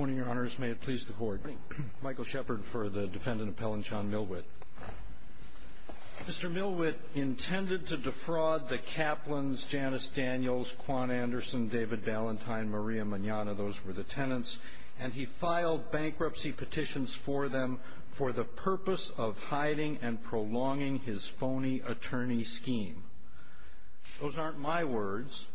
Mr. Milwitt intended to defraud the Kaplans, Janice Daniels, Quan Anderson, David Valentine, Maria Mignogna, those were the tenants, and he filed bankruptcy petitions for them for the purpose of hiding and prolonging his phony attorney scheme. Those aren't my words.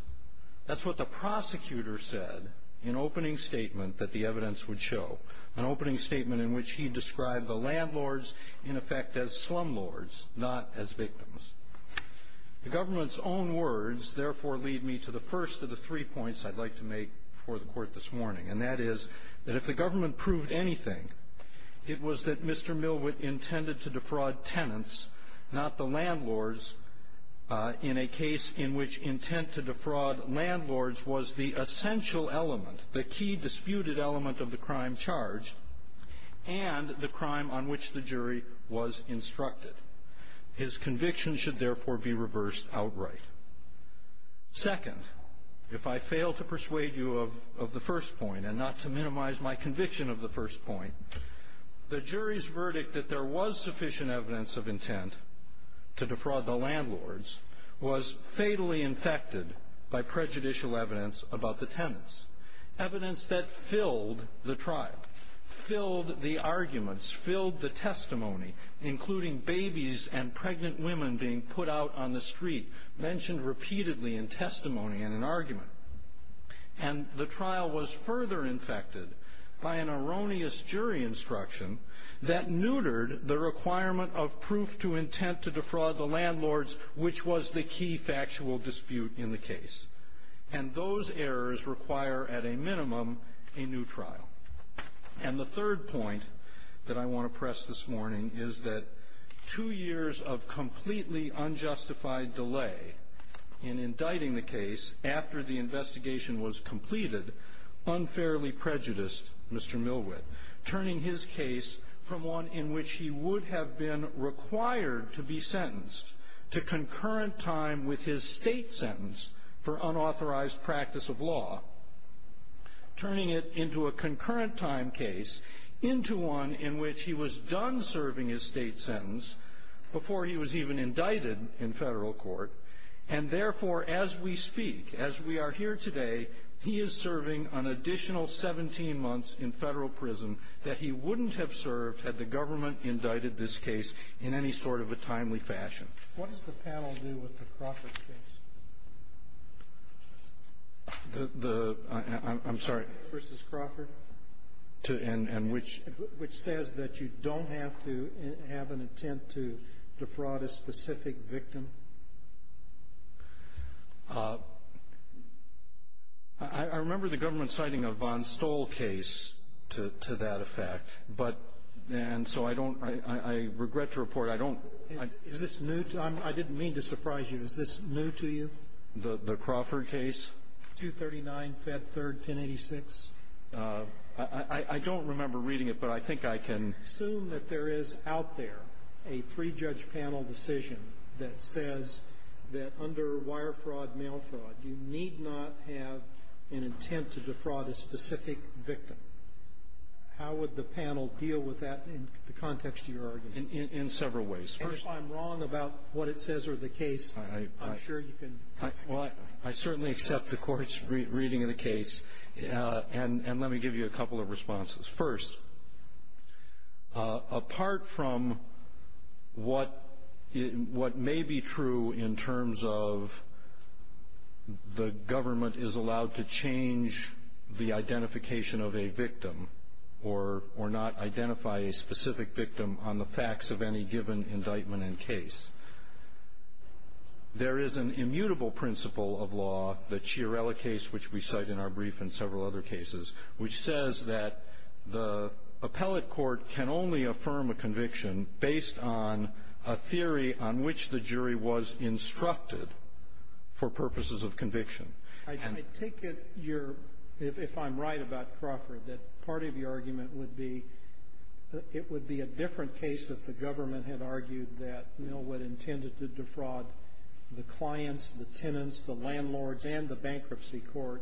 That's what the prosecutor said in opening statement that the evidence would show, an opening statement in which he described the landlords, in effect, as slumlords, not as victims. The government's own words, therefore, lead me to the first of the three points I'd like to make before the Court this morning, and that is that if the government proved anything, it was that Mr. Milwitt intended to defraud tenants, not the landlords, in a case in which intent to defraud the landlords was the essential element, the key disputed element of the crime charged, and the crime on which the jury was instructed. His conviction should, therefore, be reversed outright. Second, if I fail to persuade you of the first point, and not to minimize my conviction of the first point, the jury's verdict that there was sufficient evidence of intent to defraud the landlords was fatally infected by prejudicial evidence about the tenants, evidence that filled the trial, filled the arguments, filled the testimony, including babies and pregnant women being put out on the street, mentioned repeatedly in testimony and in argument. And the trial was further infected by an erroneous jury instruction that neutered the requirement of proof to intent to defraud the landlords, which was the key factual dispute in the case. And those errors require, at a minimum, a new trial. And the third point that I want to press this morning is that two years of completely unjustified delay in indicting the case after the investigation was completed unfairly prejudiced Mr. Milwitt, turning his case from one in which he would have been required to be sentenced to concurrent time with his state sentence for unauthorized practice of law, turning it into a concurrent time case into one in which he was done serving his state sentence before he was even indicted in federal court. And therefore, as we speak, as we are here today, he is serving an additional 17 months in federal prison that he wouldn't have served had the government indicted this case in any sort of a timely fashion. What does the panel do with the Crawford case? The – I'm sorry. Versus Crawford? And which – Which says that you don't have to have an intent to defraud a specific victim? I remember the government citing a Von Stoll case to that effect. But – and so I don't – I regret to report, I don't – Is this new to – I didn't mean to surprise you. Is this new to you? The Crawford case? 239, Feb. 3, 1086. I don't remember reading it, but I think I can – Assume that there is out there a three-judge panel decision that says that under wire fraud, mail fraud, you need not have an intent to defraud a specific victim. How would the panel deal with that in the context of your argument? In – in several ways. And if I'm wrong about what it says or the case, I'm sure you can – Well, I certainly accept the Court's reading of the case. And let me give you a couple of responses. First, apart from what may be true in terms of the government is allowed to change the identification of a victim or not identify a specific victim on the facts of any given indictment and case, there is an immutable principle of law, the Chiarella case, which we cite in our brief and several other cases, which says that the appellate court can only affirm a conviction based on a theory on which the jury was instructed for purposes of conviction. I take it you're – if I'm right about Crawford, that part of your argument would be it would be a different case if the government had argued that Millwood intended to defraud the clients, the tenants, the landlords, and the bankruptcy court.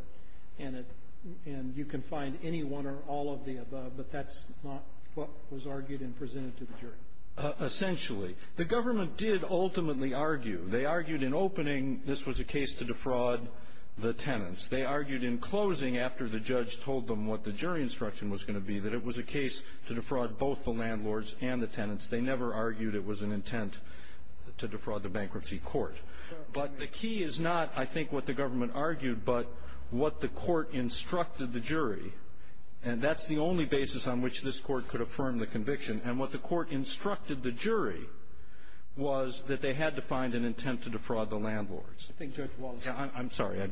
And it – and you can find any one or all of the above, but that's not what was argued and presented to the jury. Essentially. The government did ultimately argue. They argued in opening this was a case to defraud the tenants. They argued in closing after the judge told them what the jury instruction was going to be, that it was a case to defraud both the landlords and the tenants. They never argued it was an intent to defraud the bankruptcy court. But the key is not, I think, what the government argued, but what the court instructed the jury. And that's the only basis on which this court could affirm the conviction. And what the court instructed the jury was that they had to find an intent to defraud the landlords. I think Judge Walters – I'm sorry.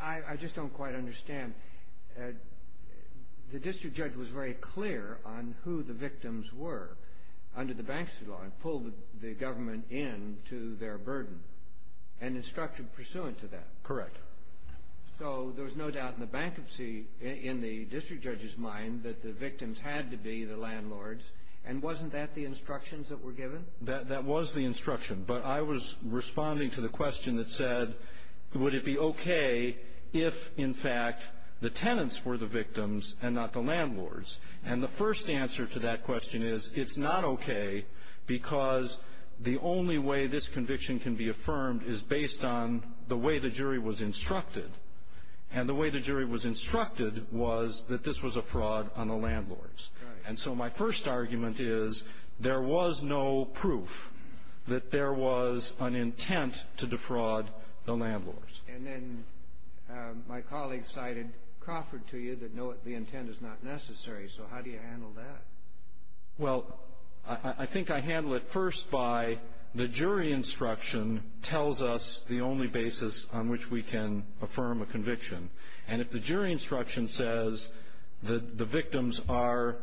I just don't quite understand. The district judge was very clear on who the victims were under the Banksy law and pulled the government in to their burden and instructed pursuant to that. Correct. So there was no doubt in the bankruptcy – in the district judge's mind that the victims had to be the landlords. And wasn't that the instructions that were given? That was the instruction. But I was responding to the question that said, would it be okay if, in fact, the tenants were the victims and not the landlords? And the first answer to that question is, it's not okay because the only way this conviction can be affirmed is based on the way the jury was instructed. And the way the jury was instructed was that this was a fraud on the landlords. Right. And so my first argument is, there was no proof that there was an intent to defraud the landlords. And then my colleague cited Crawford to you that, no, the intent is not necessary. So how do you handle that? Well, I think I handle it first by the jury instruction tells us the only basis on which we can affirm a conviction. And if the jury instruction says that the victims are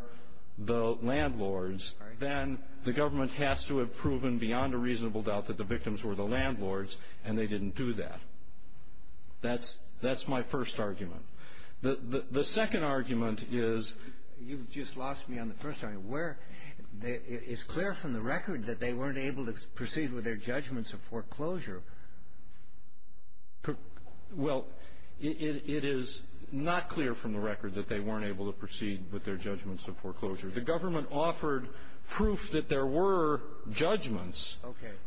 the landlords, then the government has to have proven beyond a reasonable doubt that the victims were the landlords, and they didn't do that. That's – that's my first argument. The second argument is – You've just lost me on the first argument. Where – it's clear from the record that they weren't able to proceed with their judgments of foreclosure. Well, it is not clear from the record that they weren't able to proceed with their judgments of foreclosure. The government offered proof that there were judgments,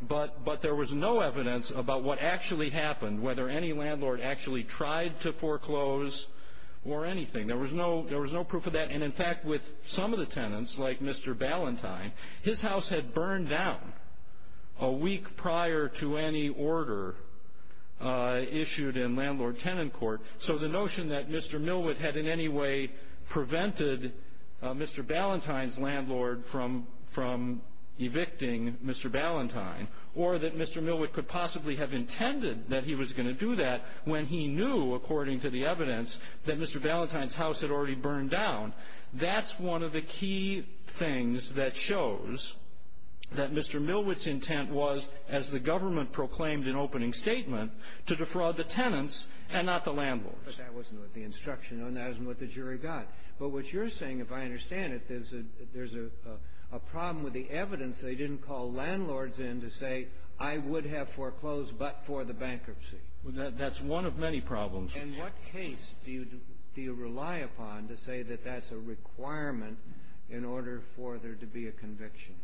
but there was no evidence about what actually happened, whether any landlord actually tried to foreclose or anything. There was no – there was no proof of that. And in fact, with some of the tenants, like Mr. Ballantyne, his house had burned down a week prior to any order issued in Landlord-Tenant Court. So the notion that Mr. Milwitt had in any way prevented Mr. Ballantyne's landlord from – from evicting Mr. Ballantyne, or that Mr. Milwitt could possibly have intended that he was going to do that when he knew, according to the evidence, that Mr. Ballantyne's house had already burned down, that's one of the key things that shows that Mr. Milwitt's intent was, as the government proclaimed in opening statement, to defraud the tenants and not the landlords. But that wasn't what the instruction on that is what the jury got. But what you're saying, if I understand it, there's a – there's a problem with the evidence they didn't call landlords in to say, I would have foreclosed but for the bankruptcy. Well, that's one of many problems. In what case do you – do you rely upon to say that that's a requirement in order for there to be a conviction?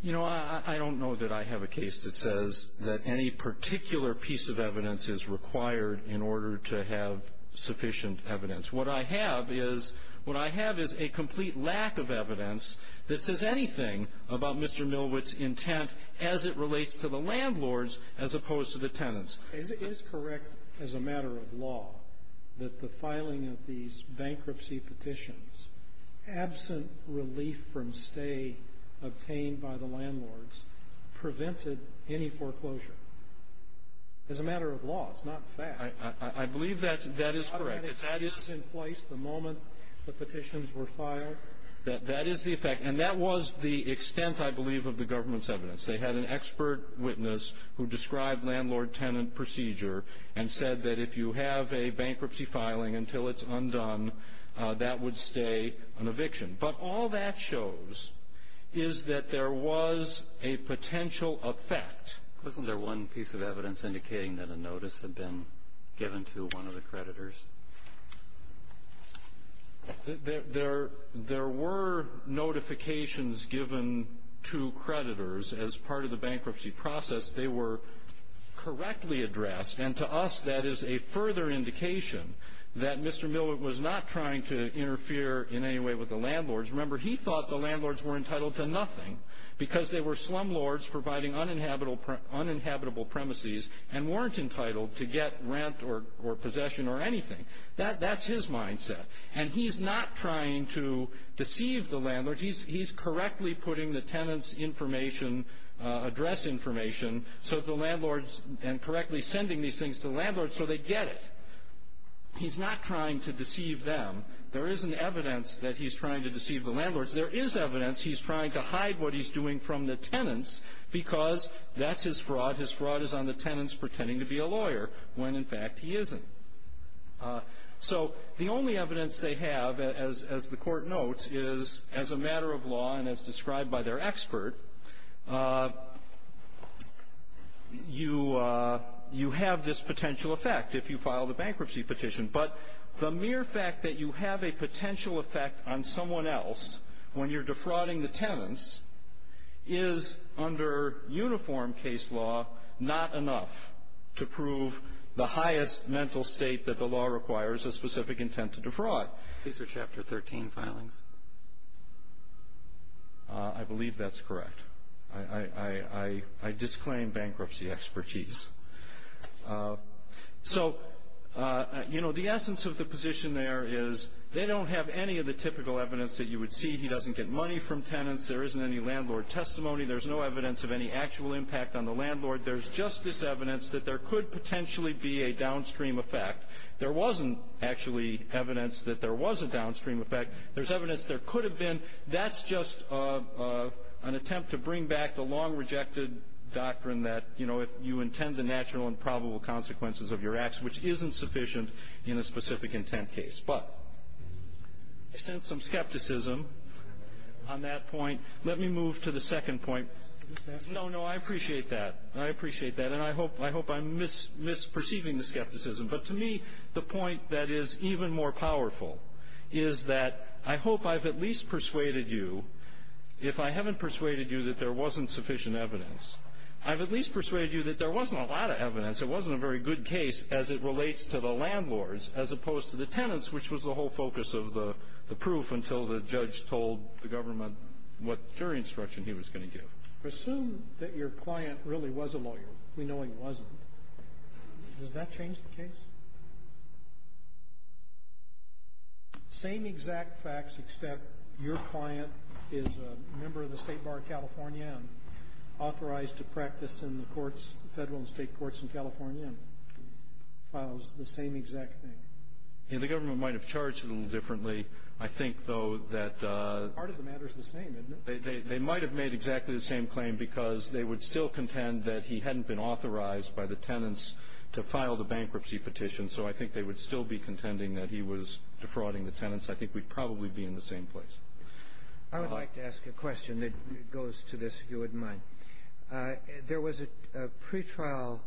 You know, I – I don't know that I have a case that says that any particular piece of evidence is required in order to have sufficient evidence. What I have is – what I have is a complete lack of evidence that says anything about Mr. Milwitt's intent as it relates to the landlords as opposed to the tenants. Is it – is it correct, as a matter of law, that the filing of these bankruptcy petitions absent relief from stay obtained by the landlords prevented any foreclosure? As a matter of law, it's not fact. I – I believe that's – that is correct. It's – that is – How about it's in place the moment the petitions were filed? That is the effect. And that was the extent, I believe, of the government's evidence. They had an expert witness who described landlord-tenant procedure and said that if you have a bankruptcy filing until it's undone, that would stay an eviction. But all that shows is that there was a potential effect. Wasn't there one piece of evidence indicating that a notice had been given to one of the creditors? There – there – there were notifications given to creditors as part of the bankruptcy process. They were correctly addressed. And to us, that is a further indication that Mr. Millward was not trying to interfere in any way with the landlords. Remember, he thought the landlords were entitled to nothing because they were slumlords providing uninhabitable – uninhabitable premises and weren't entitled to get rent or – or possession or anything. That – that's his mindset. And he's not trying to deceive the landlords. He's – he's correctly putting the tenants' information – address information so that the landlords – and correctly sending these things to the landlords so they get it. He's not trying to deceive them. There isn't evidence that he's trying to deceive the landlords. There is evidence he's trying to hide what he's doing from the tenants because that's his fraud. His fraud is on the tenants pretending to be a lawyer when, in fact, he isn't. So the only evidence they have, as – as the Court notes, is as a matter of law and as described by their expert, you – you have this potential effect if you file the bankruptcy petition. But the mere fact that you have a potential effect on someone else when you're defrauding the tenants is, under uniform case law, not enough to prove the highest mental state that the law requires a specific intent to defraud. These are Chapter 13 filings. I believe that's correct. I – I – I – I disclaim bankruptcy expertise. So, you know, the essence of the position there is they don't have any of the typical evidence that you would see. He doesn't get money from tenants. There isn't any landlord testimony. There's no evidence of any actual impact on the landlord. There's just this evidence that there could potentially be a downstream effect. There wasn't actually evidence that there was a downstream effect. There's evidence there could have been. That's just an attempt to bring back the long-rejected doctrine that, you know, if you intend the natural and probable consequences of your acts, which isn't sufficient in a specific intent case. But I sense some skepticism on that point. Let me move to the second point. No, no, I appreciate that. I appreciate that. And I hope – I hope I'm mis – misperceiving the skepticism. But to me, the point that is even more powerful is that I hope I've at least persuaded you – if I haven't persuaded you that there wasn't sufficient evidence – I've at least persuaded you that there wasn't a lot of evidence, it wasn't a very good case as it relates to the landlords as opposed to the tenants, which was the whole focus of the – the proof until the judge told the government what jury instruction he was going to give. Assume that your client really was a lawyer. We know he wasn't. Does that change the case? Same exact facts except your client is a member of the State Bar of California and authorized to practice in the courts, the federal and state courts in California and files the same exact thing. The government might have charged it a little differently. I think, though, that the – Part of the matter is the same, isn't it? They might have made exactly the same claim because they would still contend that he hadn't been authorized by the tenants to file the bankruptcy petition, so I think they would still be contending that he was defrauding the tenants. I think we'd probably be in the same place. I would like to ask a question that goes to this, if you wouldn't mind. There was a pretrial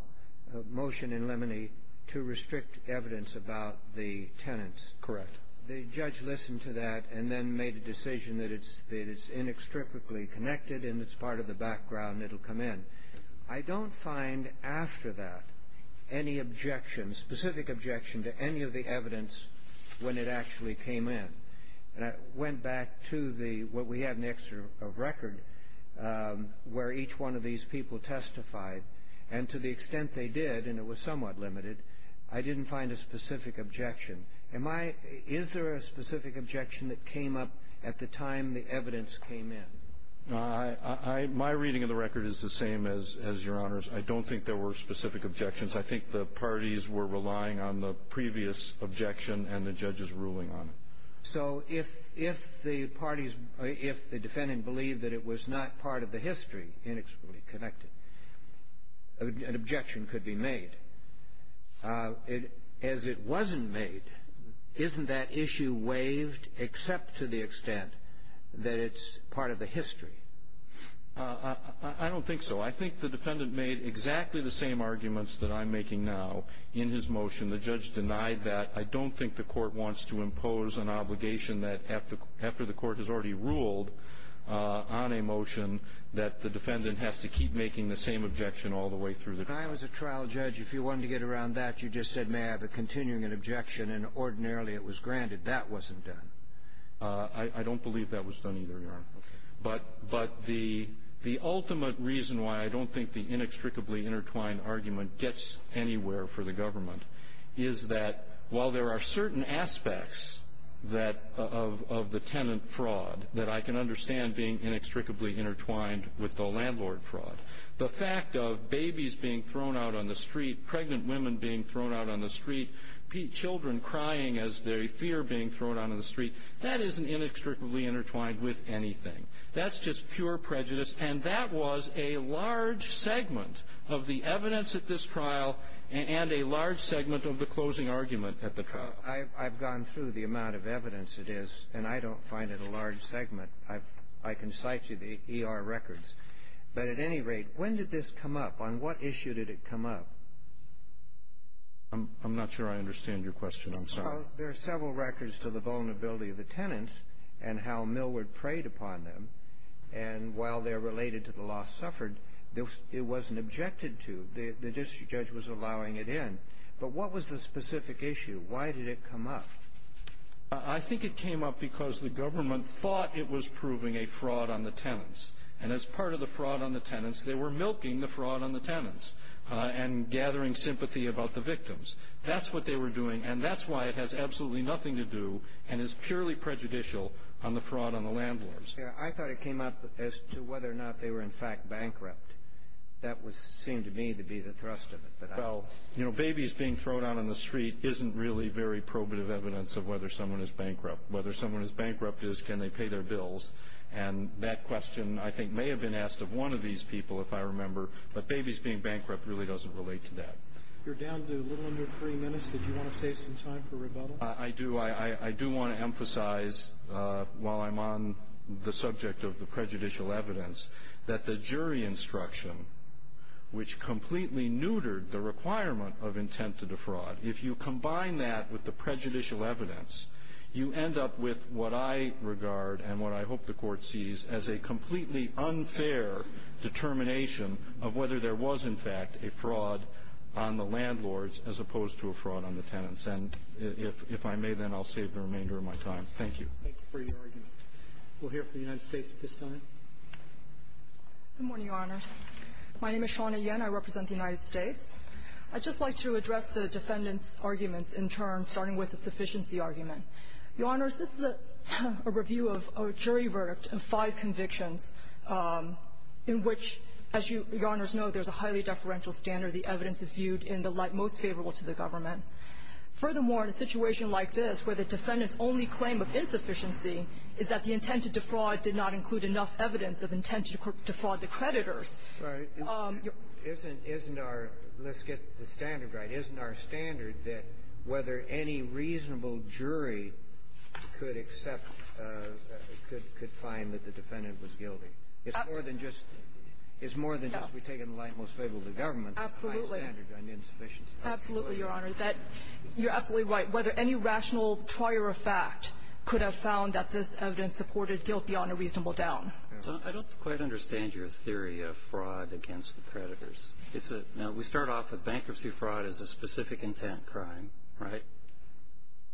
motion in Lemony to restrict evidence about the tenants. Correct. The judge listened to that and then made a decision that it's inextricably connected and it's part of the background and it'll come in. I don't find after that any objection, specific objection, to any of the evidence when it actually came in. And I went back to the – what we have next of record where each one of these people testified and to the extent they did, and it was somewhat limited, I didn't find a specific objection. Am I – is there a specific objection that came up at the time the evidence came in? My reading of the record is the same as Your Honors. I don't think there were specific objections. I think the parties were relying on the previous objection and the judge's ruling on it. So if the parties – if the defendant believed that it was not part of the history, inextricably connected, an objection could be made. As it wasn't made, isn't that issue waived except to the extent that it's part of the history? I don't think so. I think the defendant made exactly the same arguments that I'm making now in his motion. The judge denied that. I don't think the court wants to impose an obligation that after the court has already ruled on a motion that the defendant has to keep making the same objection all the way through the trial. If I was a trial judge, if you wanted to get around that, you just said, may I have a continuing objection, and ordinarily it was granted. That wasn't done. I don't believe that was done either, Your Honor. But the ultimate reason why I don't think the inextricably intertwined argument gets anywhere for the government is that while there are certain aspects of the tenant fraud that I can understand being inextricably intertwined with the landlord fraud, the fact of babies being thrown out on the street, pregnant women being thrown out on the street, children crying as they fear being thrown out on the street, that isn't inextricably intertwined with anything. That's just pure prejudice. And that was a large segment of the evidence at this trial and a large segment of the closing argument at the trial. I've gone through the amount of evidence it is, and I don't find it a large segment. I can cite you the ER records. But at any rate, when did this come up? On what issue did it come up? I'm not sure I understand your question. I'm sorry. There are several records to the vulnerability of the tenants and how Millward preyed upon them. And while they're related to the loss suffered, it wasn't objected to. The district judge was allowing it in. But what was the specific issue? Why did it come up? I think it came up because the government thought it was proving a fraud on the tenants. And as part of the fraud on the tenants, they were milking the fraud on the tenants and gathering sympathy about the victims. That's what they were doing. And that's why it has absolutely nothing to do and is purely prejudicial on the fraud on the landlords. I thought it came up as to whether or not they were, in fact, bankrupt. That seemed to me to be the thrust of it. Well, babies being thrown out on the street isn't really very probative evidence of whether someone is bankrupt. Whether someone is bankrupt is, can they pay their bills? And that question, I think, may have been asked of one of these people, if I remember. But babies being bankrupt really doesn't relate to that. You're down to a little under three minutes. Did you want to save some time for rebuttal? I do. I do want to emphasize, while I'm on the subject of the prejudicial evidence, that the jury instruction, which completely neutered the requirement of intent to defraud. If you combine that with the prejudicial evidence, you end up with what I regard and what I hope the Court sees as a completely unfair determination of whether there was, in fact, a fraud on the landlords as opposed to a fraud on the tenants. And if I may, then, I'll save the remainder of my time. Thank you. Thank you for your argument. We'll hear from the United States at this time. Good morning, Your Honors. My name is Shawna Yen. I represent the United States. I'd just like to address the defendant's arguments in turn, starting with the sufficiency argument. Your Honors, this is a review of a jury verdict of five convictions in which, as you Your Honors know, there's a highly deferential standard. The evidence is viewed in the light most favorable to the government. Furthermore, in a situation like this, where the defendant's only claim of insufficiency is that the intent to defraud did not include enough evidence of intent to defraud the creditors. Isn't our — let's get the standard right. Isn't our standard that whether any reasonable jury could accept — could find that the defendant was guilty? It's more than just — it's more than just we take it in the light most favorable to the government. Absolutely. It's a high standard on insufficiency. Absolutely, Your Honor. That — you're absolutely right. Whether any rational trier of fact could have found that this evidence supported guilt beyond a reasonable down. I don't quite understand your theory of fraud against the creditors. It's a — now, we start off with bankruptcy fraud as a specific intent crime, right?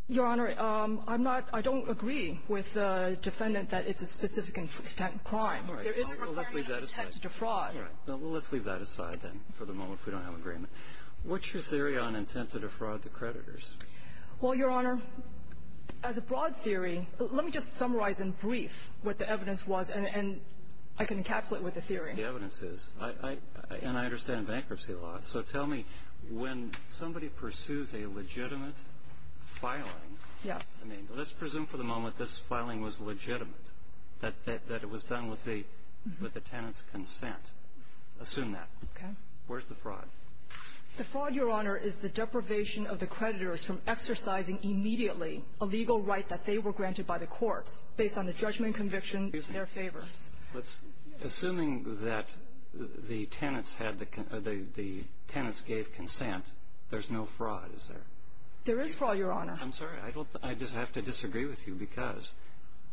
Your Honor, I'm not — I don't agree with the defendant that it's a specific intent crime. Right. There is a requirement of intent to defraud. Right. Well, let's leave that aside, then, for the moment, if we don't have agreement. What's your theory on intent to defraud the creditors? Well, Your Honor, as a broad theory — let me just summarize in brief what the evidence was, and I can encapsulate with the theory. The evidence is — and I understand bankruptcy law. So tell me, when somebody pursues a legitimate filing — Yes. I mean, let's presume for the moment this filing was legitimate, that it was done with the tenant's consent. Assume that. Okay. Where's the fraud? The fraud, Your Honor, is the deprivation of the creditors from exercising immediately a legal right that they were granted by the courts based on the judgment and conviction of their favors. Assuming that the tenants had the — the tenants gave consent, there's no fraud, is there? There is fraud, Your Honor. I'm sorry. I don't — I just have to disagree with you because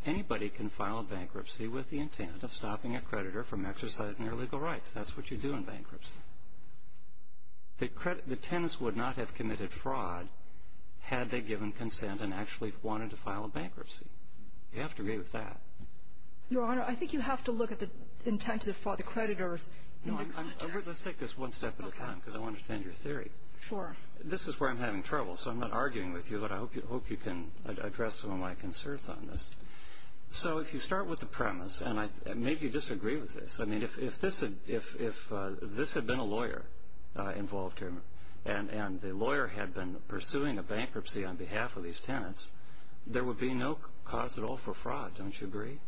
anybody can file a bankruptcy with the intent of stopping a creditor from exercising their legal rights. That's what you do in bankruptcy. The tenants would not have committed fraud had they given consent and actually wanted to file a bankruptcy. You have to agree with that. Your Honor, I think you have to look at the intent of the fraud, the creditors. No, I'm — let's take this one step at a time because I want to attend your theory. Sure. This is where I'm having trouble, so I'm not arguing with you, but I hope you can address some of my concerns on this. So if you start with the premise, and I — maybe you disagree with this. I mean, if this had — if this had been a lawyer involved here and the lawyer had been pursuing a bankruptcy on behalf of these tenants, there would be no cause at all for fraud. Don't you agree?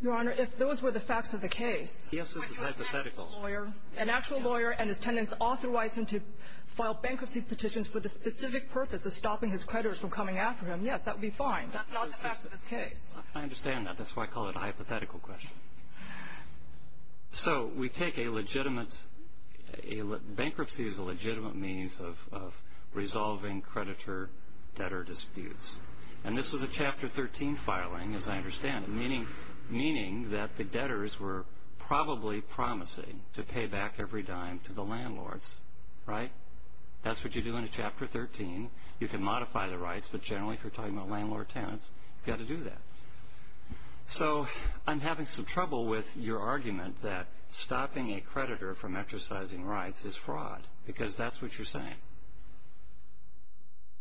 Your Honor, if those were the facts of the case — Yes, this is hypothetical. — an actual lawyer and his tenants authorized him to file bankruptcy petitions for the specific purpose of stopping his creditors from coming after him, yes, that would be fine. That's not the facts of this case. I understand that. That's why I call it a hypothetical question. So we take a legitimate — bankruptcy is a legitimate means of resolving creditor-debtor disputes. And this was a Chapter 13 filing, as I understand it, meaning that the debtors were probably promising to pay back every dime to the landlords, right? That's what you do in a Chapter 13. You can modify the rights, but generally if you're talking about landlord-tenants, you've got to do that. So I'm having some trouble with your argument that stopping a creditor from exercising rights is fraud, because that's what you're saying.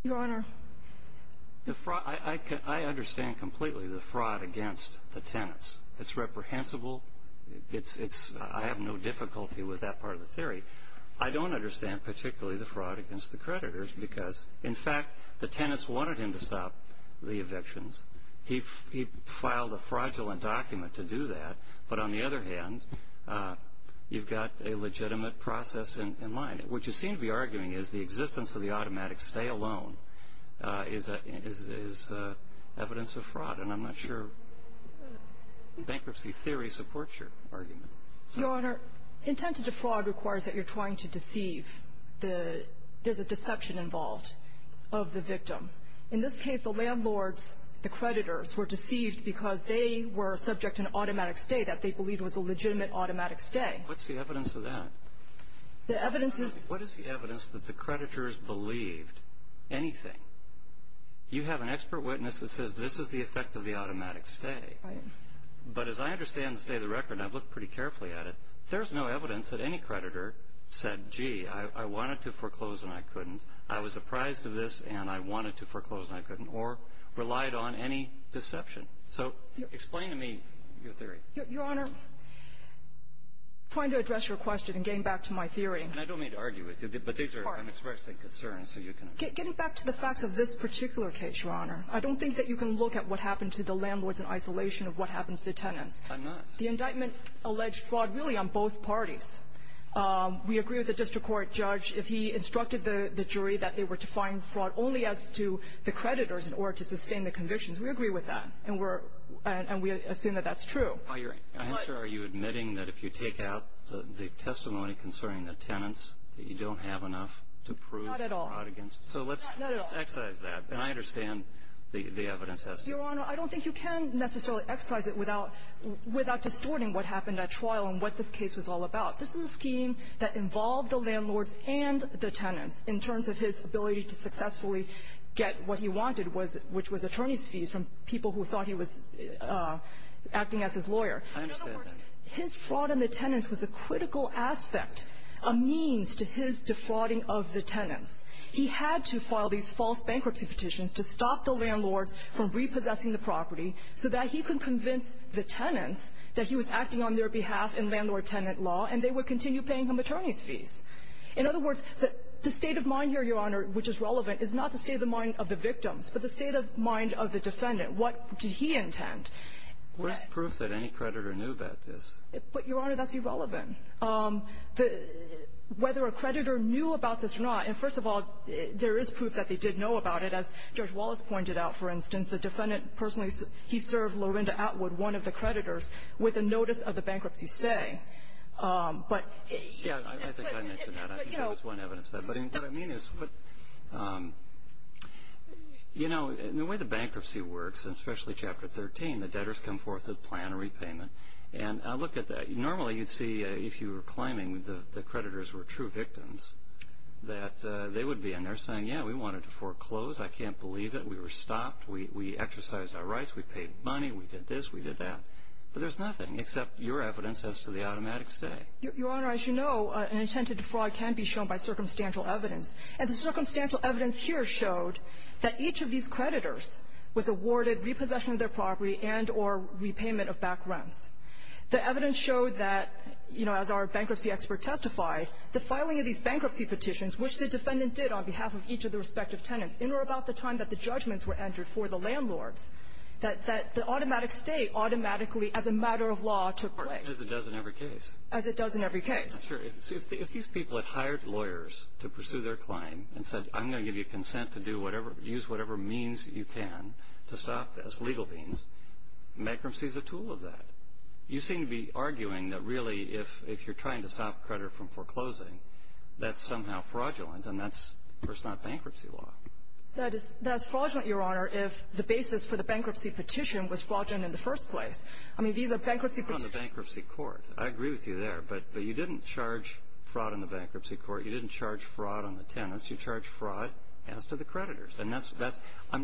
Your Honor, the fraud — I understand completely the fraud against the tenants. It's reprehensible. It's — I have no difficulty with that part of the theory. I don't understand particularly the fraud against the creditors, because, in fact, the tenants wanted him to stop the evictions. He filed a fraudulent document to do that. But on the other hand, you've got a legitimate process in mind. And what you seem to be arguing is the existence of the automatic stay alone is evidence of fraud. And I'm not sure bankruptcy theory supports your argument. Your Honor, intent to defraud requires that you're trying to deceive the — there's a deception involved of the victim. In this case, the landlords, the creditors, were deceived because they were subject to an automatic stay that they believed was a legitimate automatic stay. What's the evidence of that? The evidence is — What is the evidence that the creditors believed anything? You have an expert witness that says this is the effect of the automatic stay. Right. But as I understand the state of the record, and I've looked pretty carefully at it, there's no evidence that any creditor said, gee, I wanted to foreclose and I couldn't, I was apprised of this and I wanted to foreclose and I couldn't, or relied on any deception. So explain to me your theory. Your Honor, trying to address your question and getting back to my theory. And I don't mean to argue with you, but these are — This part. I'm expressing concern, so you can — Getting back to the facts of this particular case, Your Honor, I don't think that you can look at what happened to the landlords in isolation of what happened to the tenants. I'm not. The indictment alleged fraud really on both parties. We agree with the district court judge. If he instructed the jury that they were to find fraud only as to the creditors in order to sustain the convictions, we agree with that. And we're — and we assume that that's true. Your Honor, are you admitting that if you take out the testimony concerning the tenants, that you don't have enough to prove fraud against — Not at all. So let's excise that. And I understand the evidence has to be — Your Honor, I don't think you can necessarily excise it without — without distorting what happened at trial and what this case was all about. This is a scheme that involved the landlords and the tenants in terms of his ability to successfully get what he wanted, which was attorney's fees from people who thought he was acting as his lawyer. I understand that. In other words, his fraud on the tenants was a critical aspect, a means to his defrauding of the tenants. He had to file these false bankruptcy petitions to stop the landlords from repossessing the property so that he could convince the tenants that he was acting on their behalf in landlord-tenant law, and they would continue paying him attorney's fees. In other words, the — the state of mind here, Your Honor, which is relevant, is not the state of mind of the victims, but the state of mind of the defendant. What did he intend? Where's the proof that any creditor knew about this? But, Your Honor, that's irrelevant. The — whether a creditor knew about this or not — and first of all, there is proof that they did know about it. As Judge Wallace pointed out, for instance, the defendant personally — he served Lorinda Atwood, one of the creditors, with a notice of the bankruptcy stay. But — Yeah, I think I mentioned that. I think that was one evidence there. But what I mean is what — you know, the way the bankruptcy works, and especially Chapter 13, the debtors come forth with a plan of repayment. And I look at that. Normally, you'd see, if you were claiming the creditors were true victims, that they would be in there saying, yeah, we wanted to foreclose. I can't believe it. We were stopped. We exercised our rights. We paid money. We did this. We did that. But there's nothing except your evidence as to the automatic stay. Your Honor, as you know, an attempted fraud can be shown by circumstantial evidence. And the circumstantial evidence here showed that each of these creditors was awarded repossession of their property and or repayment of back rents. The evidence showed that, you know, as our bankruptcy expert testified, the filing of these bankruptcy petitions, which the defendant did on behalf of each of the respective tenants, in or about the time that the judgments were entered for the landlords, that the automatic stay automatically, as a matter of law, took place. As it does in every case. As it does in every case. That's true. If these people had hired lawyers to pursue their claim and said, I'm going to give you consent to do whatever you use whatever means you can to stop this, legal means, bankruptcy is a tool of that. You seem to be arguing that, really, if you're trying to stop credit from foreclosing, that's somehow fraudulent, and that's, of course, not bankruptcy law. That's fraudulent, Your Honor, if the basis for the bankruptcy petition was fraudulent in the first place. I mean, these are bankruptcy petitions. I agree with you there, but you didn't charge fraud in the bankruptcy court. You didn't charge fraud on the tenants. You charged fraud as to the creditors. And that's,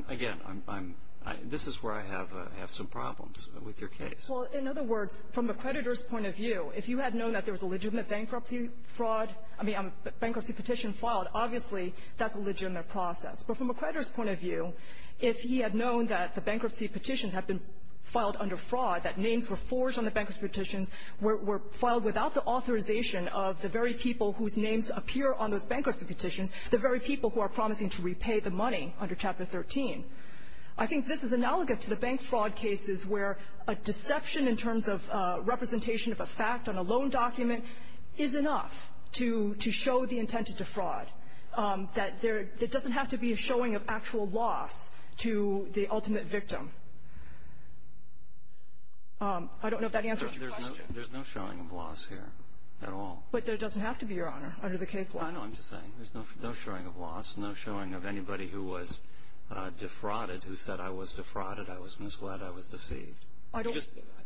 again, I'm, this is where I have some problems with your case. Well, in other words, from a creditor's point of view, if you had known that there was a legitimate bankruptcy fraud, I mean, a bankruptcy petition filed, obviously, that's a legitimate process. But from a creditor's point of view, if he had known that the bankruptcy petitions have been filed under fraud, that names were forged on the bankruptcy petitions, were filed without the authorization of the very people whose names appear on those bankruptcy petitions, the very people who are promising to repay the money under Chapter 13, I think this is analogous to the bank fraud cases where a deception in terms of representation of a fact on a loan document is enough to show the intent to defraud, that there doesn't have to be a showing of actual loss to the ultimate victim. I don't know if that answers your question. There's no showing of loss here at all. But there doesn't have to be, Your Honor, under the case law. I know. I'm just saying there's no showing of loss, no showing of anybody who was defrauded, who said I was defrauded, I was misled, I was deceived. I don't.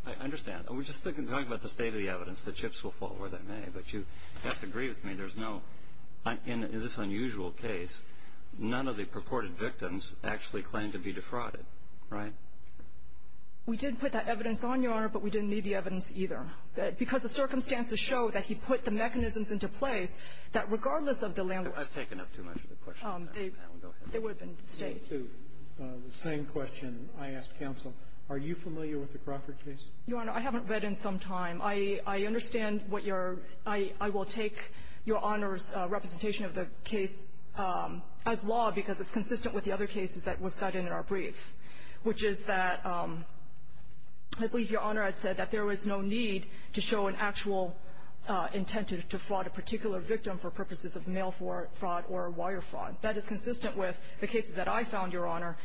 I understand. We're just talking about the state of the evidence. The chips will fall where they may. But you have to agree with me. There's no, in this unusual case, none of the purported victims actually claim to be defrauded, right? We did put that evidence on, Your Honor, but we didn't need the evidence either. Because the circumstances show that he put the mechanisms into place that regardless of the language. I've taken up too much of the question. They would have been state. The same question I asked counsel. Are you familiar with the Crawford case? Your Honor, I haven't read in some time. I understand what your, I will take Your Honor's representation of the case as law because it's consistent with the other cases that were cited in our brief, which is that I believe, Your Honor, I said that there was no need to show an actual intent to fraud a particular victim for purposes of mail fraud or wire fraud. That is consistent with the cases that I found, Your Honor,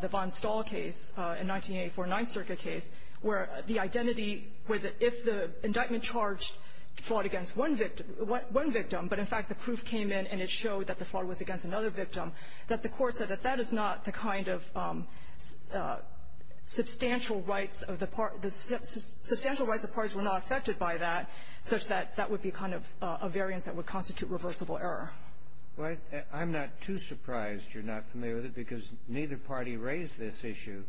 the Von Stahl case in 1984, Ninth Circuit case, where the identity, if the indictment charged fraud against one victim, but in fact, the proof came in and it showed that the fraud was against another victim, that the Court said that that is not the kind of substantial rights of the parties were not affected by that, such that that would be kind of a variance that would constitute reversible error. Well, I'm not too surprised you're not familiar with it because neither party raised this issue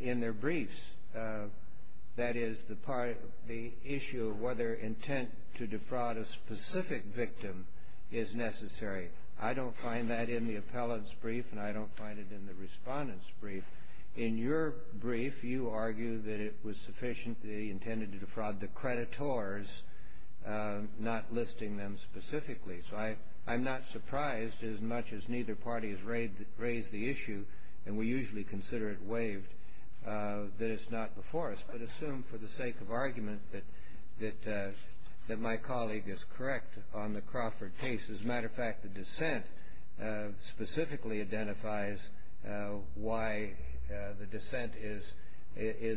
in their briefs. That is the issue of whether intent to defraud a specific victim is necessary. I don't find that in the appellant's brief and I don't find it in the respondent's brief. In your brief, you argue that it was sufficiently intended to defraud the creditors, not listing them specifically. So I'm not surprised as much as neither party has raised the issue, and we usually consider it waived, that it's not before us. But assume for the sake of argument that my colleague is correct on the Crawford case. As a matter of fact, the dissent specifically identifies why the dissent is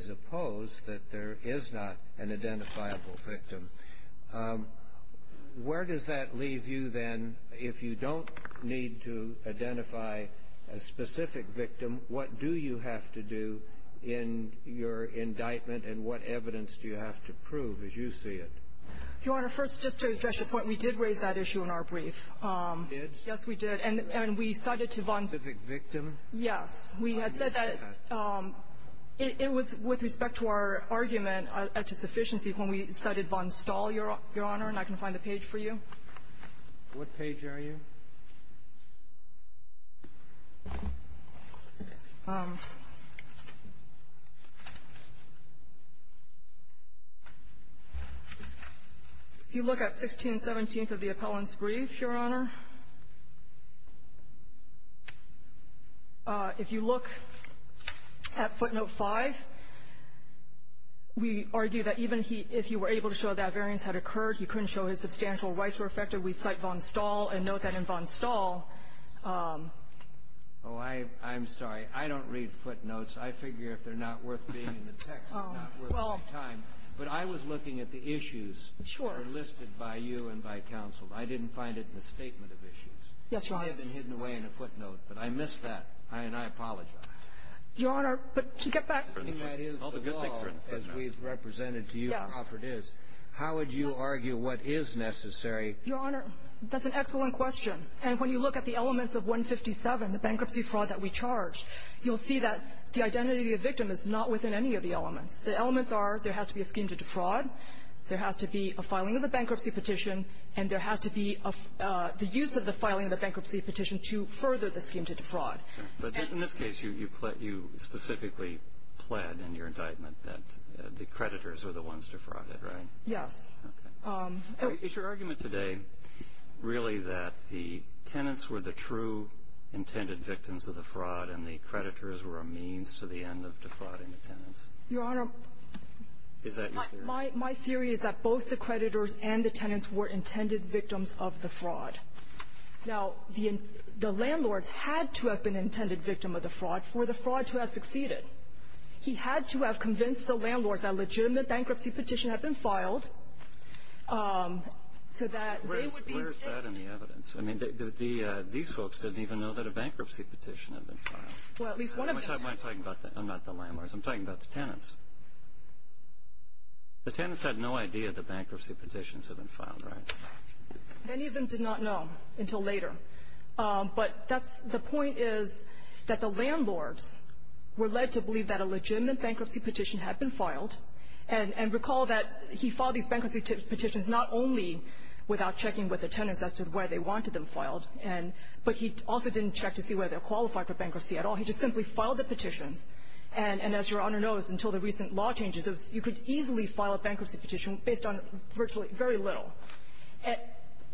opposed, that there is not an identifiable victim. Where does that leave you then, if you don't need to identify a specific victim, what do you have to do in your indictment, and what evidence do you have to prove as you see it? Your Honor, first, just to address your point, we did raise that issue in our brief. You did? Yes, we did. And we cited to Vaughn's --. Specific victim? Yes. We had said that it was with respect to our argument as to sufficiency when we cited Vaughn Stahl, Your Honor, and I can find the page for you. What page are you? If you look at 1617th of the appellant's brief, Your Honor, if you look at footnote 5, we argue that even if he were able to show that variance had occurred, he couldn't have shown that variance had occurred, we cite Vaughn Stahl, and note that in Vaughn Stahl --. Oh, I'm sorry. I don't read footnotes. I figure if they're not worth being in the text, they're not worth my time. But I was looking at the issues that are listed by you and by counsel. I didn't find it in the statement of issues. Yes, Your Honor. It may have been hidden away in a footnote, but I missed that, and I apologize. Your Honor, but to get back to the good things from the past, as we've represented to you how awkward it is, how would you argue what is necessary? Your Honor, that's an excellent question. And when you look at the elements of 157, the bankruptcy fraud that we charged, you'll see that the identity of the victim is not within any of the elements. The elements are there has to be a scheme to defraud, there has to be a filing of a bankruptcy petition, and there has to be the use of the filing of the bankruptcy petition to further the scheme to defraud. But in this case, you specifically pled in your indictment that the creditors are the ones to defraud it, right? Yes. Okay. It's your argument today, really, that the tenants were the true intended victims of the fraud, and the creditors were a means to the end of defrauding the tenants? Your Honor, my theory is that both the creditors and the tenants were intended victims of the fraud. Now, the landlords had to have been intended victim of the fraud for the fraud to have succeeded. He had to have convinced the landlords that a legitimate bankruptcy petition had been filed so that they would be safe. Where is that in the evidence? I mean, these folks didn't even know that a bankruptcy petition had been filed. Well, at least one of them did. I'm not talking about the landlords. I'm talking about the tenants. The tenants had no idea that bankruptcy petitions had been filed, right? Many of them did not know until later. But the point is that the landlords were led to believe that a legitimate bankruptcy petition had been filed. And recall that he filed these bankruptcy petitions not only without checking with the tenants as to where they wanted them filed, but he also didn't check to see whether they're qualified for bankruptcy at all. He just simply filed the petitions. And as Your Honor knows, until the recent law changes, you could easily file a bankruptcy petition based on virtually very little,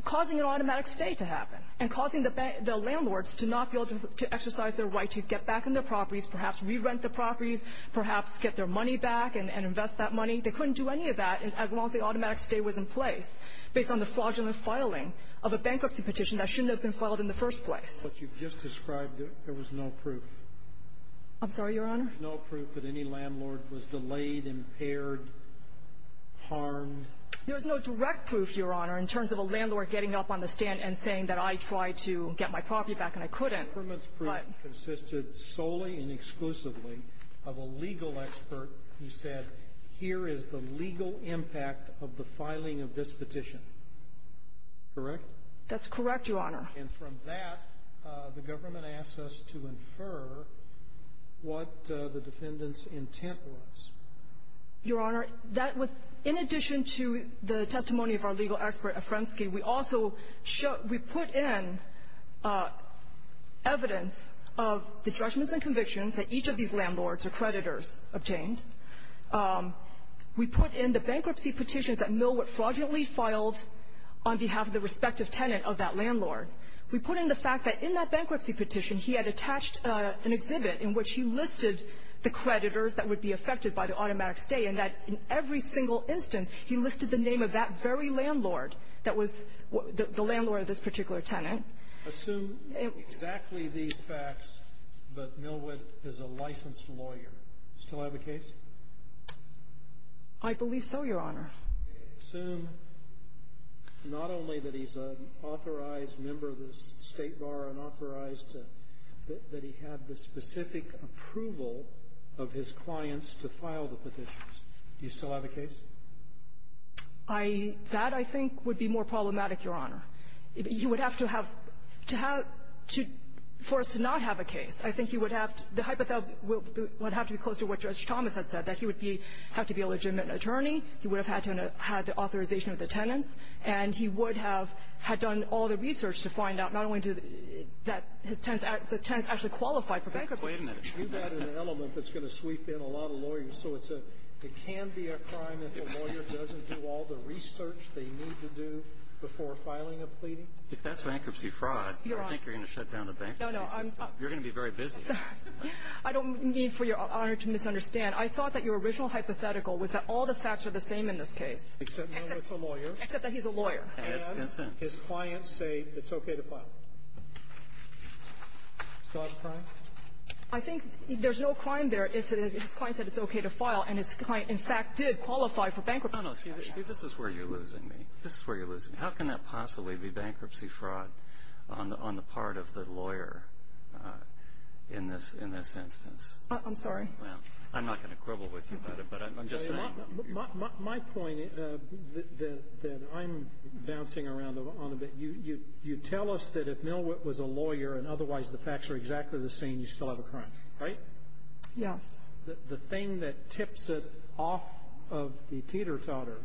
causing an automatic stay to happen, and causing the landlords to not be able to exercise their right to get back in their money back and invest that money. They couldn't do any of that as long as the automatic stay was in place based on the fraudulent filing of a bankruptcy petition that shouldn't have been filed in the first place. But you've just described there was no proof. I'm sorry, Your Honor? There was no proof that any landlord was delayed, impaired, harmed. There was no direct proof, Your Honor, in terms of a landlord getting up on the stand and saying that I tried to get my property back and I couldn't. The government's proof consisted solely and exclusively of a legal expert who said, here is the legal impact of the filing of this petition, correct? That's correct, Your Honor. And from that, the government asked us to infer what the defendant's intent was. Your Honor, that was in addition to the testimony of our legal expert, Afremsky. We also showed – we put in evidence of the judgments and convictions that each of these landlords or creditors obtained. We put in the bankruptcy petitions that Millwood fraudulently filed on behalf of the respective tenant of that landlord. We put in the fact that in that bankruptcy petition, he had attached an exhibit in which he listed the creditors that would be affected by the automatic stay, and that in every single instance, he listed the name of that very landlord that was the landlord of this particular tenant. Assume exactly these facts, but Millwood is a licensed lawyer. Do you still have a case? I believe so, Your Honor. Assume not only that he's an authorized member of the State Bar and authorized to – that he had the specific approval of his clients to file the petitions. Do you still have a case? I – that, I think, would be more problematic, Your Honor. He would have to have – to have to – for us to not have a case. I think he would have to – the hypothetical would have to be close to what Judge Thomas had said, that he would be – have to be a legitimate attorney. He would have had to have the authorization of the tenants. And he would have had done all the research to find out not only to – that his tenants – the tenants actually qualified for bankruptcy. Wait a minute. You've added an element that's going to sweep in a lot of lawyers. So it's a – it can be a crime if a lawyer doesn't do all the research they need to do before filing a pleading? If that's bankruptcy fraud, I don't think you're going to shut down a bankruptcy system. No, no. You're going to be very busy. I don't mean for Your Honor to misunderstand. I thought that your original hypothetical was that all the facts are the same in this case. Except Millwood's a lawyer. Except that he's a lawyer. Yes, that's it. And his clients say it's okay to file. So is that a crime? I think there's no crime there if his client said it's okay to file and his client, in fact, did qualify for bankruptcy. No, no. See, this is where you're losing me. This is where you're losing me. How can that possibly be bankruptcy fraud on the part of the lawyer in this instance? I'm sorry? I'm not going to quibble with you about it, but I'm just saying. My point that I'm bouncing around on a bit, you tell us that if Millwood was a lawyer and otherwise the facts are exactly the same, you still have a crime, right? Yes. The thing that tips it off of the teeter-totter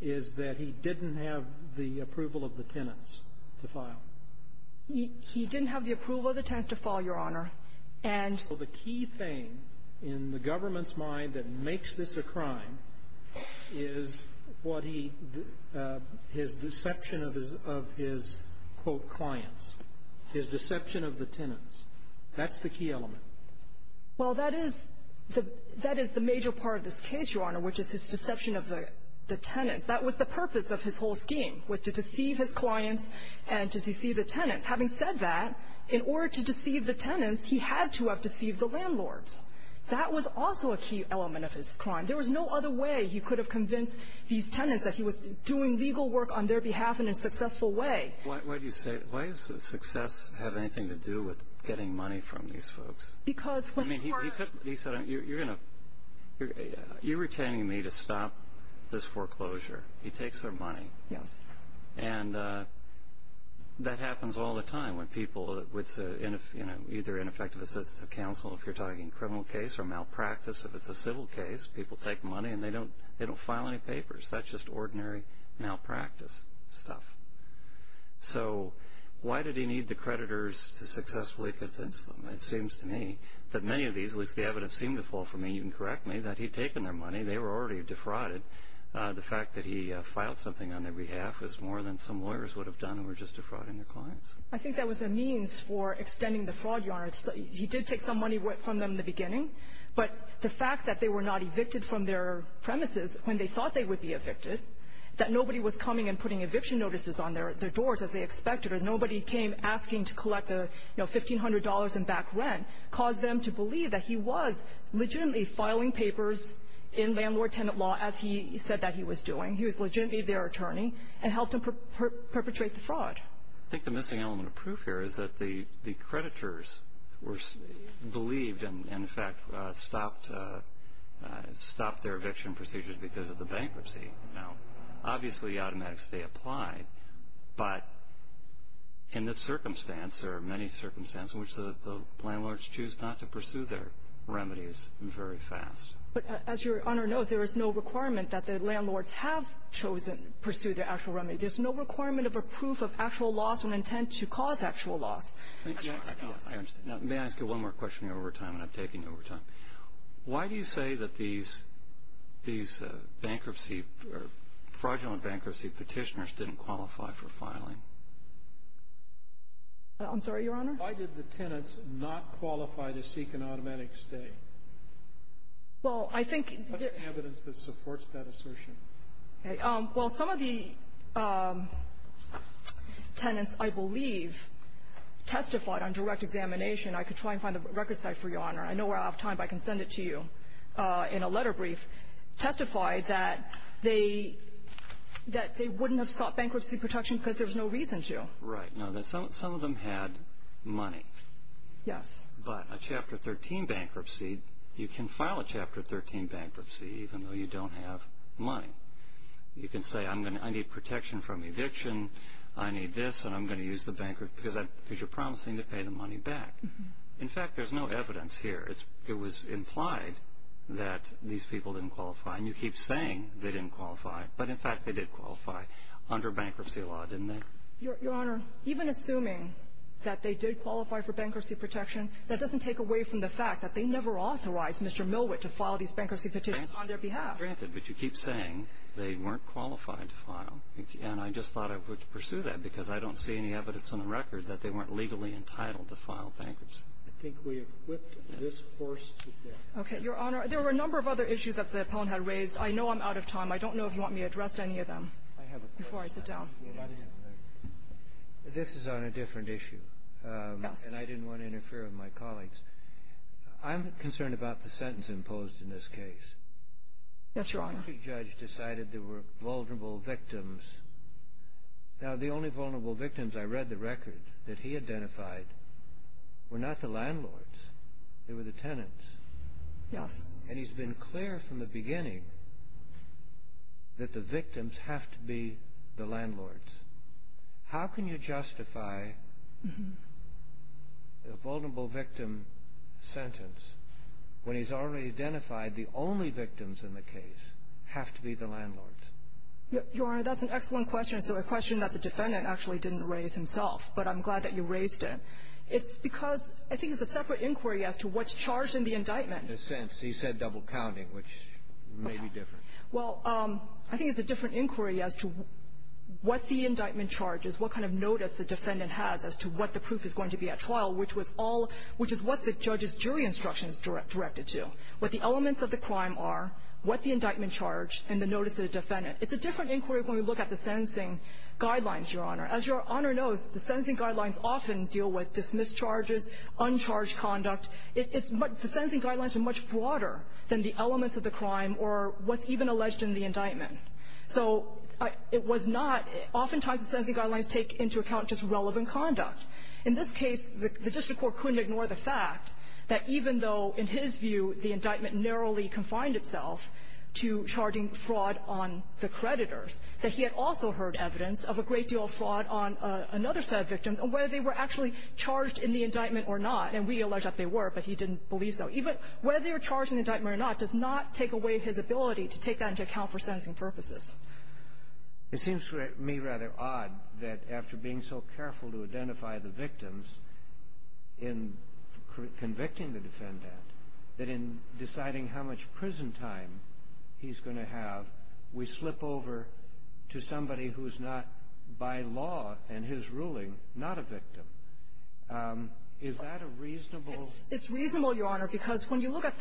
is that he didn't have the approval of the tenants to file. He didn't have the approval of the tenants to file, Your Honor. So the key thing in the government's mind that makes this a crime is what he, his deception of his, quote, clients, his deception of the tenants. That's the key element. Well, that is the major part of this case, Your Honor, which is his deception of the tenants. That was the purpose of his whole scheme, was to deceive his clients and to deceive the tenants. Having said that, in order to deceive the tenants, he had to have deceived the landlords. That was also a key element of his crime. There was no other way he could have convinced these tenants that he was doing legal work on their behalf in a successful way. Why do you say, why does success have anything to do with getting money from these folks? Because when part of- He said, you're retaining me to stop this foreclosure. He takes their money. Yes. And that happens all the time when people with either ineffective assistance of counsel, if you're talking criminal case or malpractice. If it's a civil case, people take money and they don't file any papers. That's just ordinary malpractice stuff. So why did he need the creditors to successfully convince them? It seems to me that many of these, at least the evidence seemed to fall for me, you can correct me, that he'd taken their money. They were already defrauded. The fact that he filed something on their behalf was more than some lawyers would have done who were just defrauding their clients. I think that was a means for extending the fraud, Your Honor. He did take some money from them in the beginning, but the fact that they were not evicted from their premises when they thought they would be evicted, that nobody was coming and putting eviction notices on their doors as they expected, or nobody came asking to collect the $1,500 in back rent, caused them to believe that he was legitimately filing papers in landlord-tenant law, as he said that he was doing. He was legitimately their attorney and helped them perpetrate the fraud. I think the missing element of proof here is that the creditors believed and, in fact, stopped their eviction procedures because of the bankruptcy. Now, obviously, automatic stay applied, but in this circumstance, or many circumstances in which the landlords choose not to pursue their remedies very fast. But as Your Honor knows, there is no requirement that the landlords have chosen to pursue their actual remedy. There's no requirement of a proof of actual loss or intent to cause actual loss. Yes, I understand. Now, may I ask you one more question over time, and I'm taking over time? Why do you say that these bankruptcy or fraudulent bankruptcy petitioners didn't qualify for filing? I'm sorry, Your Honor? Why did the tenants not qualify to seek an automatic stay? Well, I think that the evidence that supports that assertion. Well, some of the tenants, I believe, testified on direct examination. I could try and find the record site for you, Your Honor. I know we're out of time, but I can send it to you in a letter brief, testified that they wouldn't have sought bankruptcy protection because there was no reason to. Right. Now, some of them had money. Yes. But a Chapter 13 bankruptcy, you can file a Chapter 13 bankruptcy even though you don't have money. You can say, I need protection from eviction. I need this, and I'm going to use the bankruptcy because you're promising to pay the money back. In fact, there's no evidence here. It was implied that these people didn't qualify. And you keep saying they didn't qualify, but, in fact, they did qualify under bankruptcy law, didn't they? Your Honor, even assuming that they did qualify for bankruptcy protection, that doesn't take away from the fact that they never authorized Mr. Milwitt to file these bankruptcy petitions on their behalf. Granted, but you keep saying they weren't qualified to file, and I just thought I would pursue that because I don't see any evidence on the record that they weren't legally entitled to file bankruptcy. I think we have whipped this horse to death. Okay. Your Honor, there were a number of other issues that the Appellant had raised. I know I'm out of time. I don't know if you want me to address any of them before I sit down. This is on a different issue. Yes. And I didn't want to interfere with my colleagues. I'm concerned about the sentence imposed in this case. Yes, Your Honor. The judge decided there were vulnerable victims. Now, the only vulnerable victims I read the record that he identified were not the landlords. They were the tenants. Yes. And he's been clear from the beginning that the victims have to be the landlords. How can you justify a vulnerable victim sentence when he's already identified the only victims in the case have to be the landlords? Your Honor, that's an excellent question. So a question that the defendant actually didn't raise himself, but I'm glad that you raised it. It's because I think it's a separate inquiry as to what's charged in the indictment. In a sense, he said double counting, which may be different. Well, I think it's a different inquiry as to what the indictment charges, what kind of notice the defendant has as to what the proof is going to be at trial, which was all – which is what the judge's jury instruction is directed to. What the elements of the crime are, what the indictment charge, and the notice of the defendant. It's a different inquiry when we look at the sentencing guidelines, Your Honor. As Your Honor knows, the sentencing guidelines often deal with dismissed charges, uncharged conduct. It's – the sentencing guidelines are much broader than the elements of the crime or what's even alleged in the indictment. So it was not – oftentimes the sentencing guidelines take into account just relevant conduct. In this case, the district court couldn't ignore the fact that even though, in his view, the indictment narrowly confined itself to charging fraud on the creditors, that he had also heard evidence of a great deal of fraud on another set of victims on whether they were actually charged in the indictment or not. And we allege that they were, but he didn't believe so. Even whether they were charged in the indictment or not does not take away his ability to take that into account for sentencing purposes. It seems to me rather odd that after being so careful to identify the victims in convicting the defendant, that in deciding how much prison time he's going to have, we slip over to somebody who's not, by law and his ruling, not a victim. Is that a reasonable…? Well, that might be good if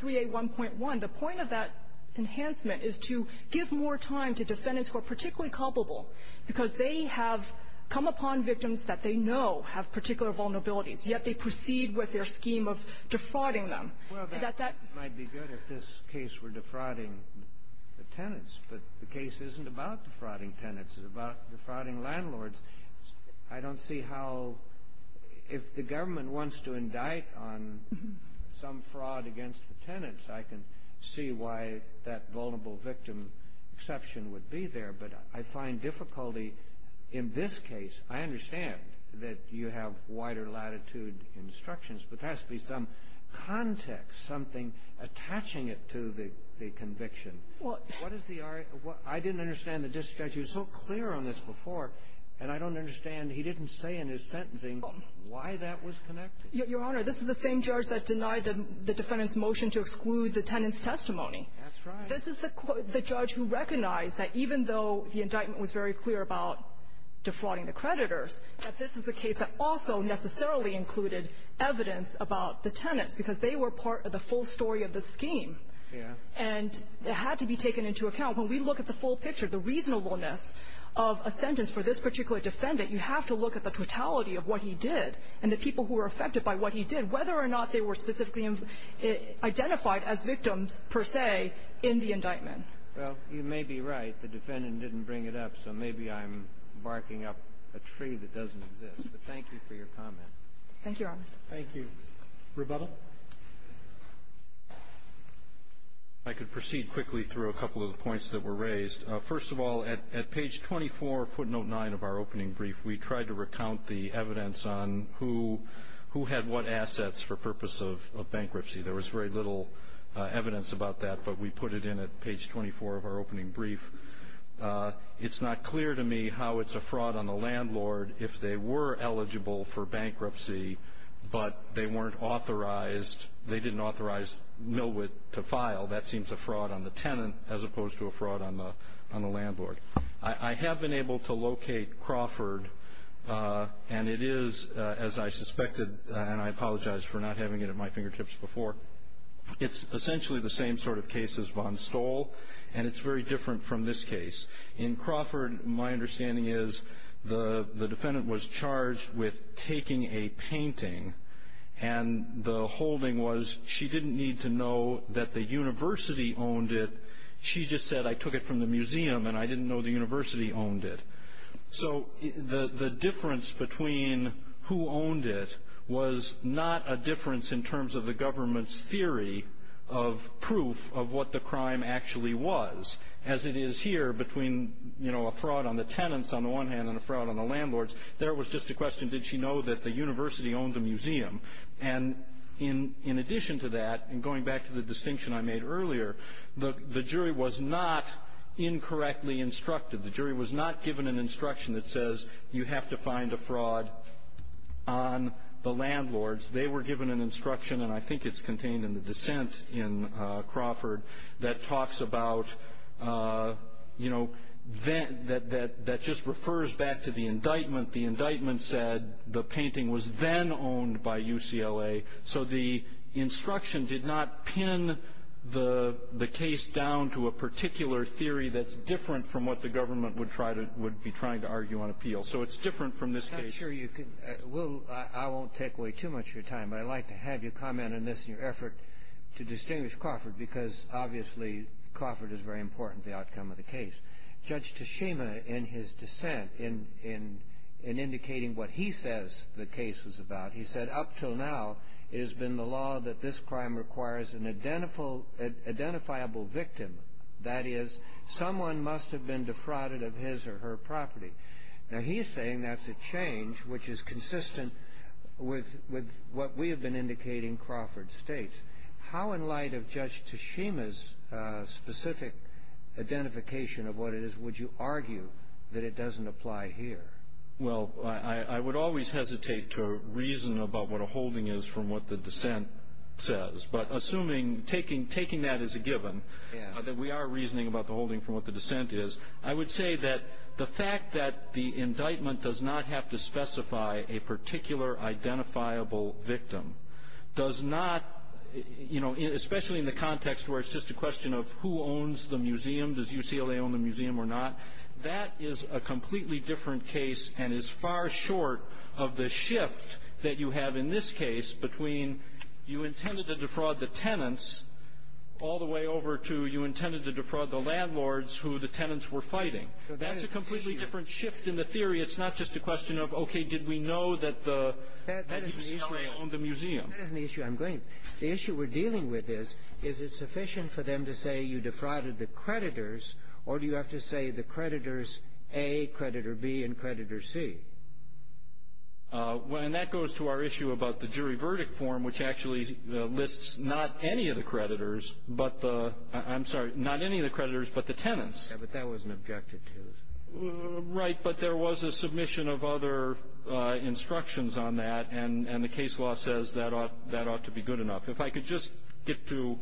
this case were defrauding the tenants, but the case isn't about defrauding tenants, it's about defrauding landlords. I don't see how – if the government wants to indict on some fraud against the tenants, I can see why that vulnerable victim exception would be. But I find difficulty in this case. I understand that you have wider latitude instructions, but there has to be some context, something attaching it to the conviction. What is the – I didn't understand the district judge. He was so clear on this before, and I don't understand he didn't say in his sentencing why that was connected. Your Honor, this is the same judge that denied the defendant's motion to exclude the tenant's testimony. That's right. This is the judge who recognized that even though the indictment was very clear about defrauding the creditors, that this is a case that also necessarily included evidence about the tenants, because they were part of the full story of the scheme. Yeah. And it had to be taken into account. When we look at the full picture, the reasonableness of a sentence for this particular defendant, you have to look at the totality of what he did and the people who were affected by what he did, whether or not they were specifically identified as victims, per se, in the indictment. Well, you may be right. The defendant didn't bring it up, so maybe I'm barking up a tree that doesn't exist. But thank you for your comment. Thank you, Your Honor. Thank you. Rebuttal? I could proceed quickly through a couple of the points that were raised. First of all, at page 24, footnote 9 of our opening brief, we tried to recount the evidence on who had what assets for purpose of bankruptcy. There was very little evidence about that, but we put it in at page 24 of our opening brief. It's not clear to me how it's a fraud on the landlord if they were eligible for bankruptcy, but they weren't authorized. They didn't authorize Millwood to file. That seems a fraud on the tenant as opposed to a fraud on the landlord. I have been able to locate Crawford, and it is, as I suspected, and I apologize for not having it at my fingertips before. It's essentially the same sort of case as Von Stoll, and it's very different from this case. In Crawford, my understanding is the defendant was charged with taking a painting, and the holding was she didn't need to know that the university owned it. She just said, I took it from the museum, and I didn't know the university owned it. So the difference between who owned it was not a difference in terms of the government's theory of proof of what the crime actually was, as it is here between a fraud on the tenants on the one hand and a fraud on the landlords. There was just a question, did she know that the university owned the museum? And in addition to that, and going back to the distinction I made earlier, the jury was not incorrectly instructed. The jury was not given an instruction that says you have to find a fraud on the landlords. They were given an instruction, and I think it's contained in the dissent in Crawford, that talks about, you know, that just refers back to the indictment. The indictment said the painting was then owned by UCLA. So the instruction did not pin the case down to a particular theory that's different from what the government would try to, would be trying to argue on appeal. So it's different from this case. I'm sure you could, I won't take away too much of your time, but I'd like to have you comment on this in your effort to distinguish Crawford, because obviously Crawford is very important to the outcome of the case. Judge Tashima, in his dissent, in indicating what he says the case was about, he said, up till now, it has been the law that this crime requires an identifiable victim. That is, someone must have been defrauded of his or her property. Now he's saying that's a change which is consistent with what we have been indicating Crawford states. How, in light of Judge Tashima's specific identification of what it is, would you argue that it doesn't apply here? Well, I would always hesitate to reason about what a holding is from what the dissent says. But assuming, taking that as a given, that we are reasoning about the holding from what the dissent is, I would say that the fact that the indictment does not have to specify a particular identifiable victim, does not, especially in the context where it's just a question of who owns the museum, does UCLA own the museum or not, that is a completely different case and is far short of the shift that you have in this case between you intended to defraud the tenants all the way over to you intended to defraud the landlords who the tenants were fighting. That's a completely different shift in the theory. It's not just a question of, okay, did we know that the landlords owned the museum? That is an issue I'm going to. The issue we're dealing with is, is it sufficient for them to say you defrauded the creditors, or do you have to say the creditors A, creditor B, and creditor C? Well, and that goes to our issue about the jury verdict form, which actually lists not any of the creditors, but the, I'm sorry, not any of the creditors, but the tenants. Yeah, but that wasn't objected to. Right, but there was a submission of other instructions on that, and the case law says that ought to be good enough. If I could just get to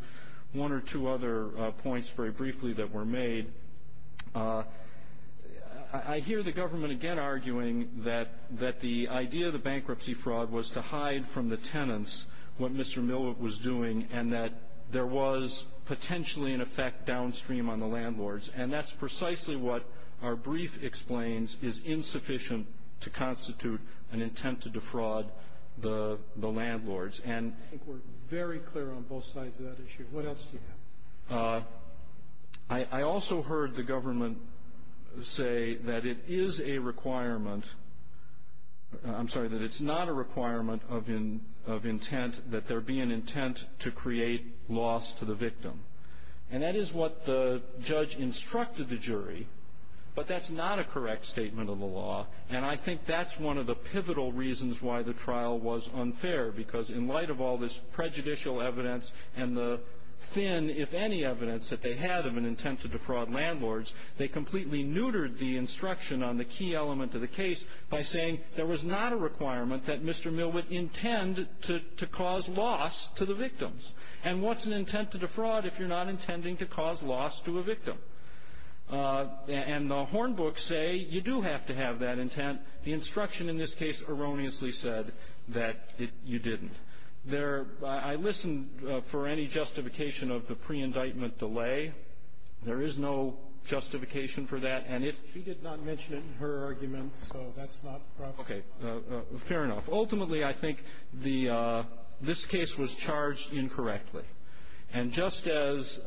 one or two other points very briefly that were made, I hear the government again arguing that the idea of the bankruptcy fraud was to hide from the tenants what Mr. Millwood was doing, and that there was potentially an effect downstream on the landlords. And that's precisely what our brief explains is insufficient to constitute an intent to defraud the landlords. And I think we're very clear on both sides of that issue. What else do you have? I also heard the government say that it is a requirement, I'm sorry, that it's not a requirement of intent that there be an intent to create loss to the victim. And that is what the judge instructed the jury, but that's not a correct statement of the law. And I think that's one of the pivotal reasons why the trial was unfair, because in light of all this prejudicial evidence and the thin, if any, evidence that they had of an intent to defraud landlords, they completely neutered the instruction on the key element of the case by saying there was not a requirement that Mr. Millwood intend to cause loss to the victims. And what's an intent to defraud if you're not intending to cause loss to a victim? And the Hornbooks say you do have to have that intent. The instruction in this case erroneously said that you didn't. There, I listened for any justification of the pre-indictment delay. There is no justification for that. And it's. She did not mention it in her argument, so that's not. Okay, fair enough. Ultimately, I think the this case was charged incorrectly. And just as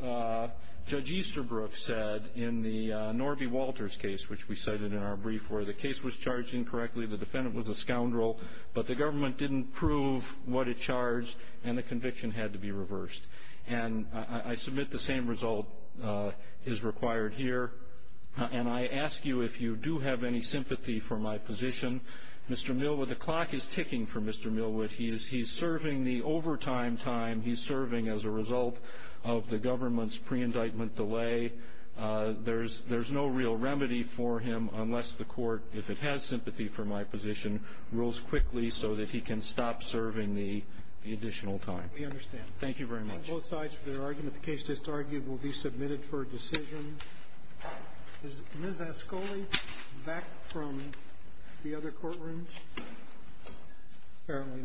Judge Easterbrook said in the Norby Walters case, which we cited in our brief where the case was charged incorrectly, the defendant was a scoundrel. But the government didn't prove what it charged, and the conviction had to be reversed. And I submit the same result is required here. And I ask you if you do have any sympathy for my position. Mr. Millwood, the clock is ticking for Mr. Millwood. He's serving the overtime time. He's serving as a result of the government's pre-indictment delay. There's no real remedy for him unless the court, if it has sympathy for my position, rules quickly so that he can stop serving the additional time. We understand. Thank you very much. Both sides for their argument. The case just argued will be submitted for a decision. Ms. Ascoli, back from the other courtroom. Apparently not.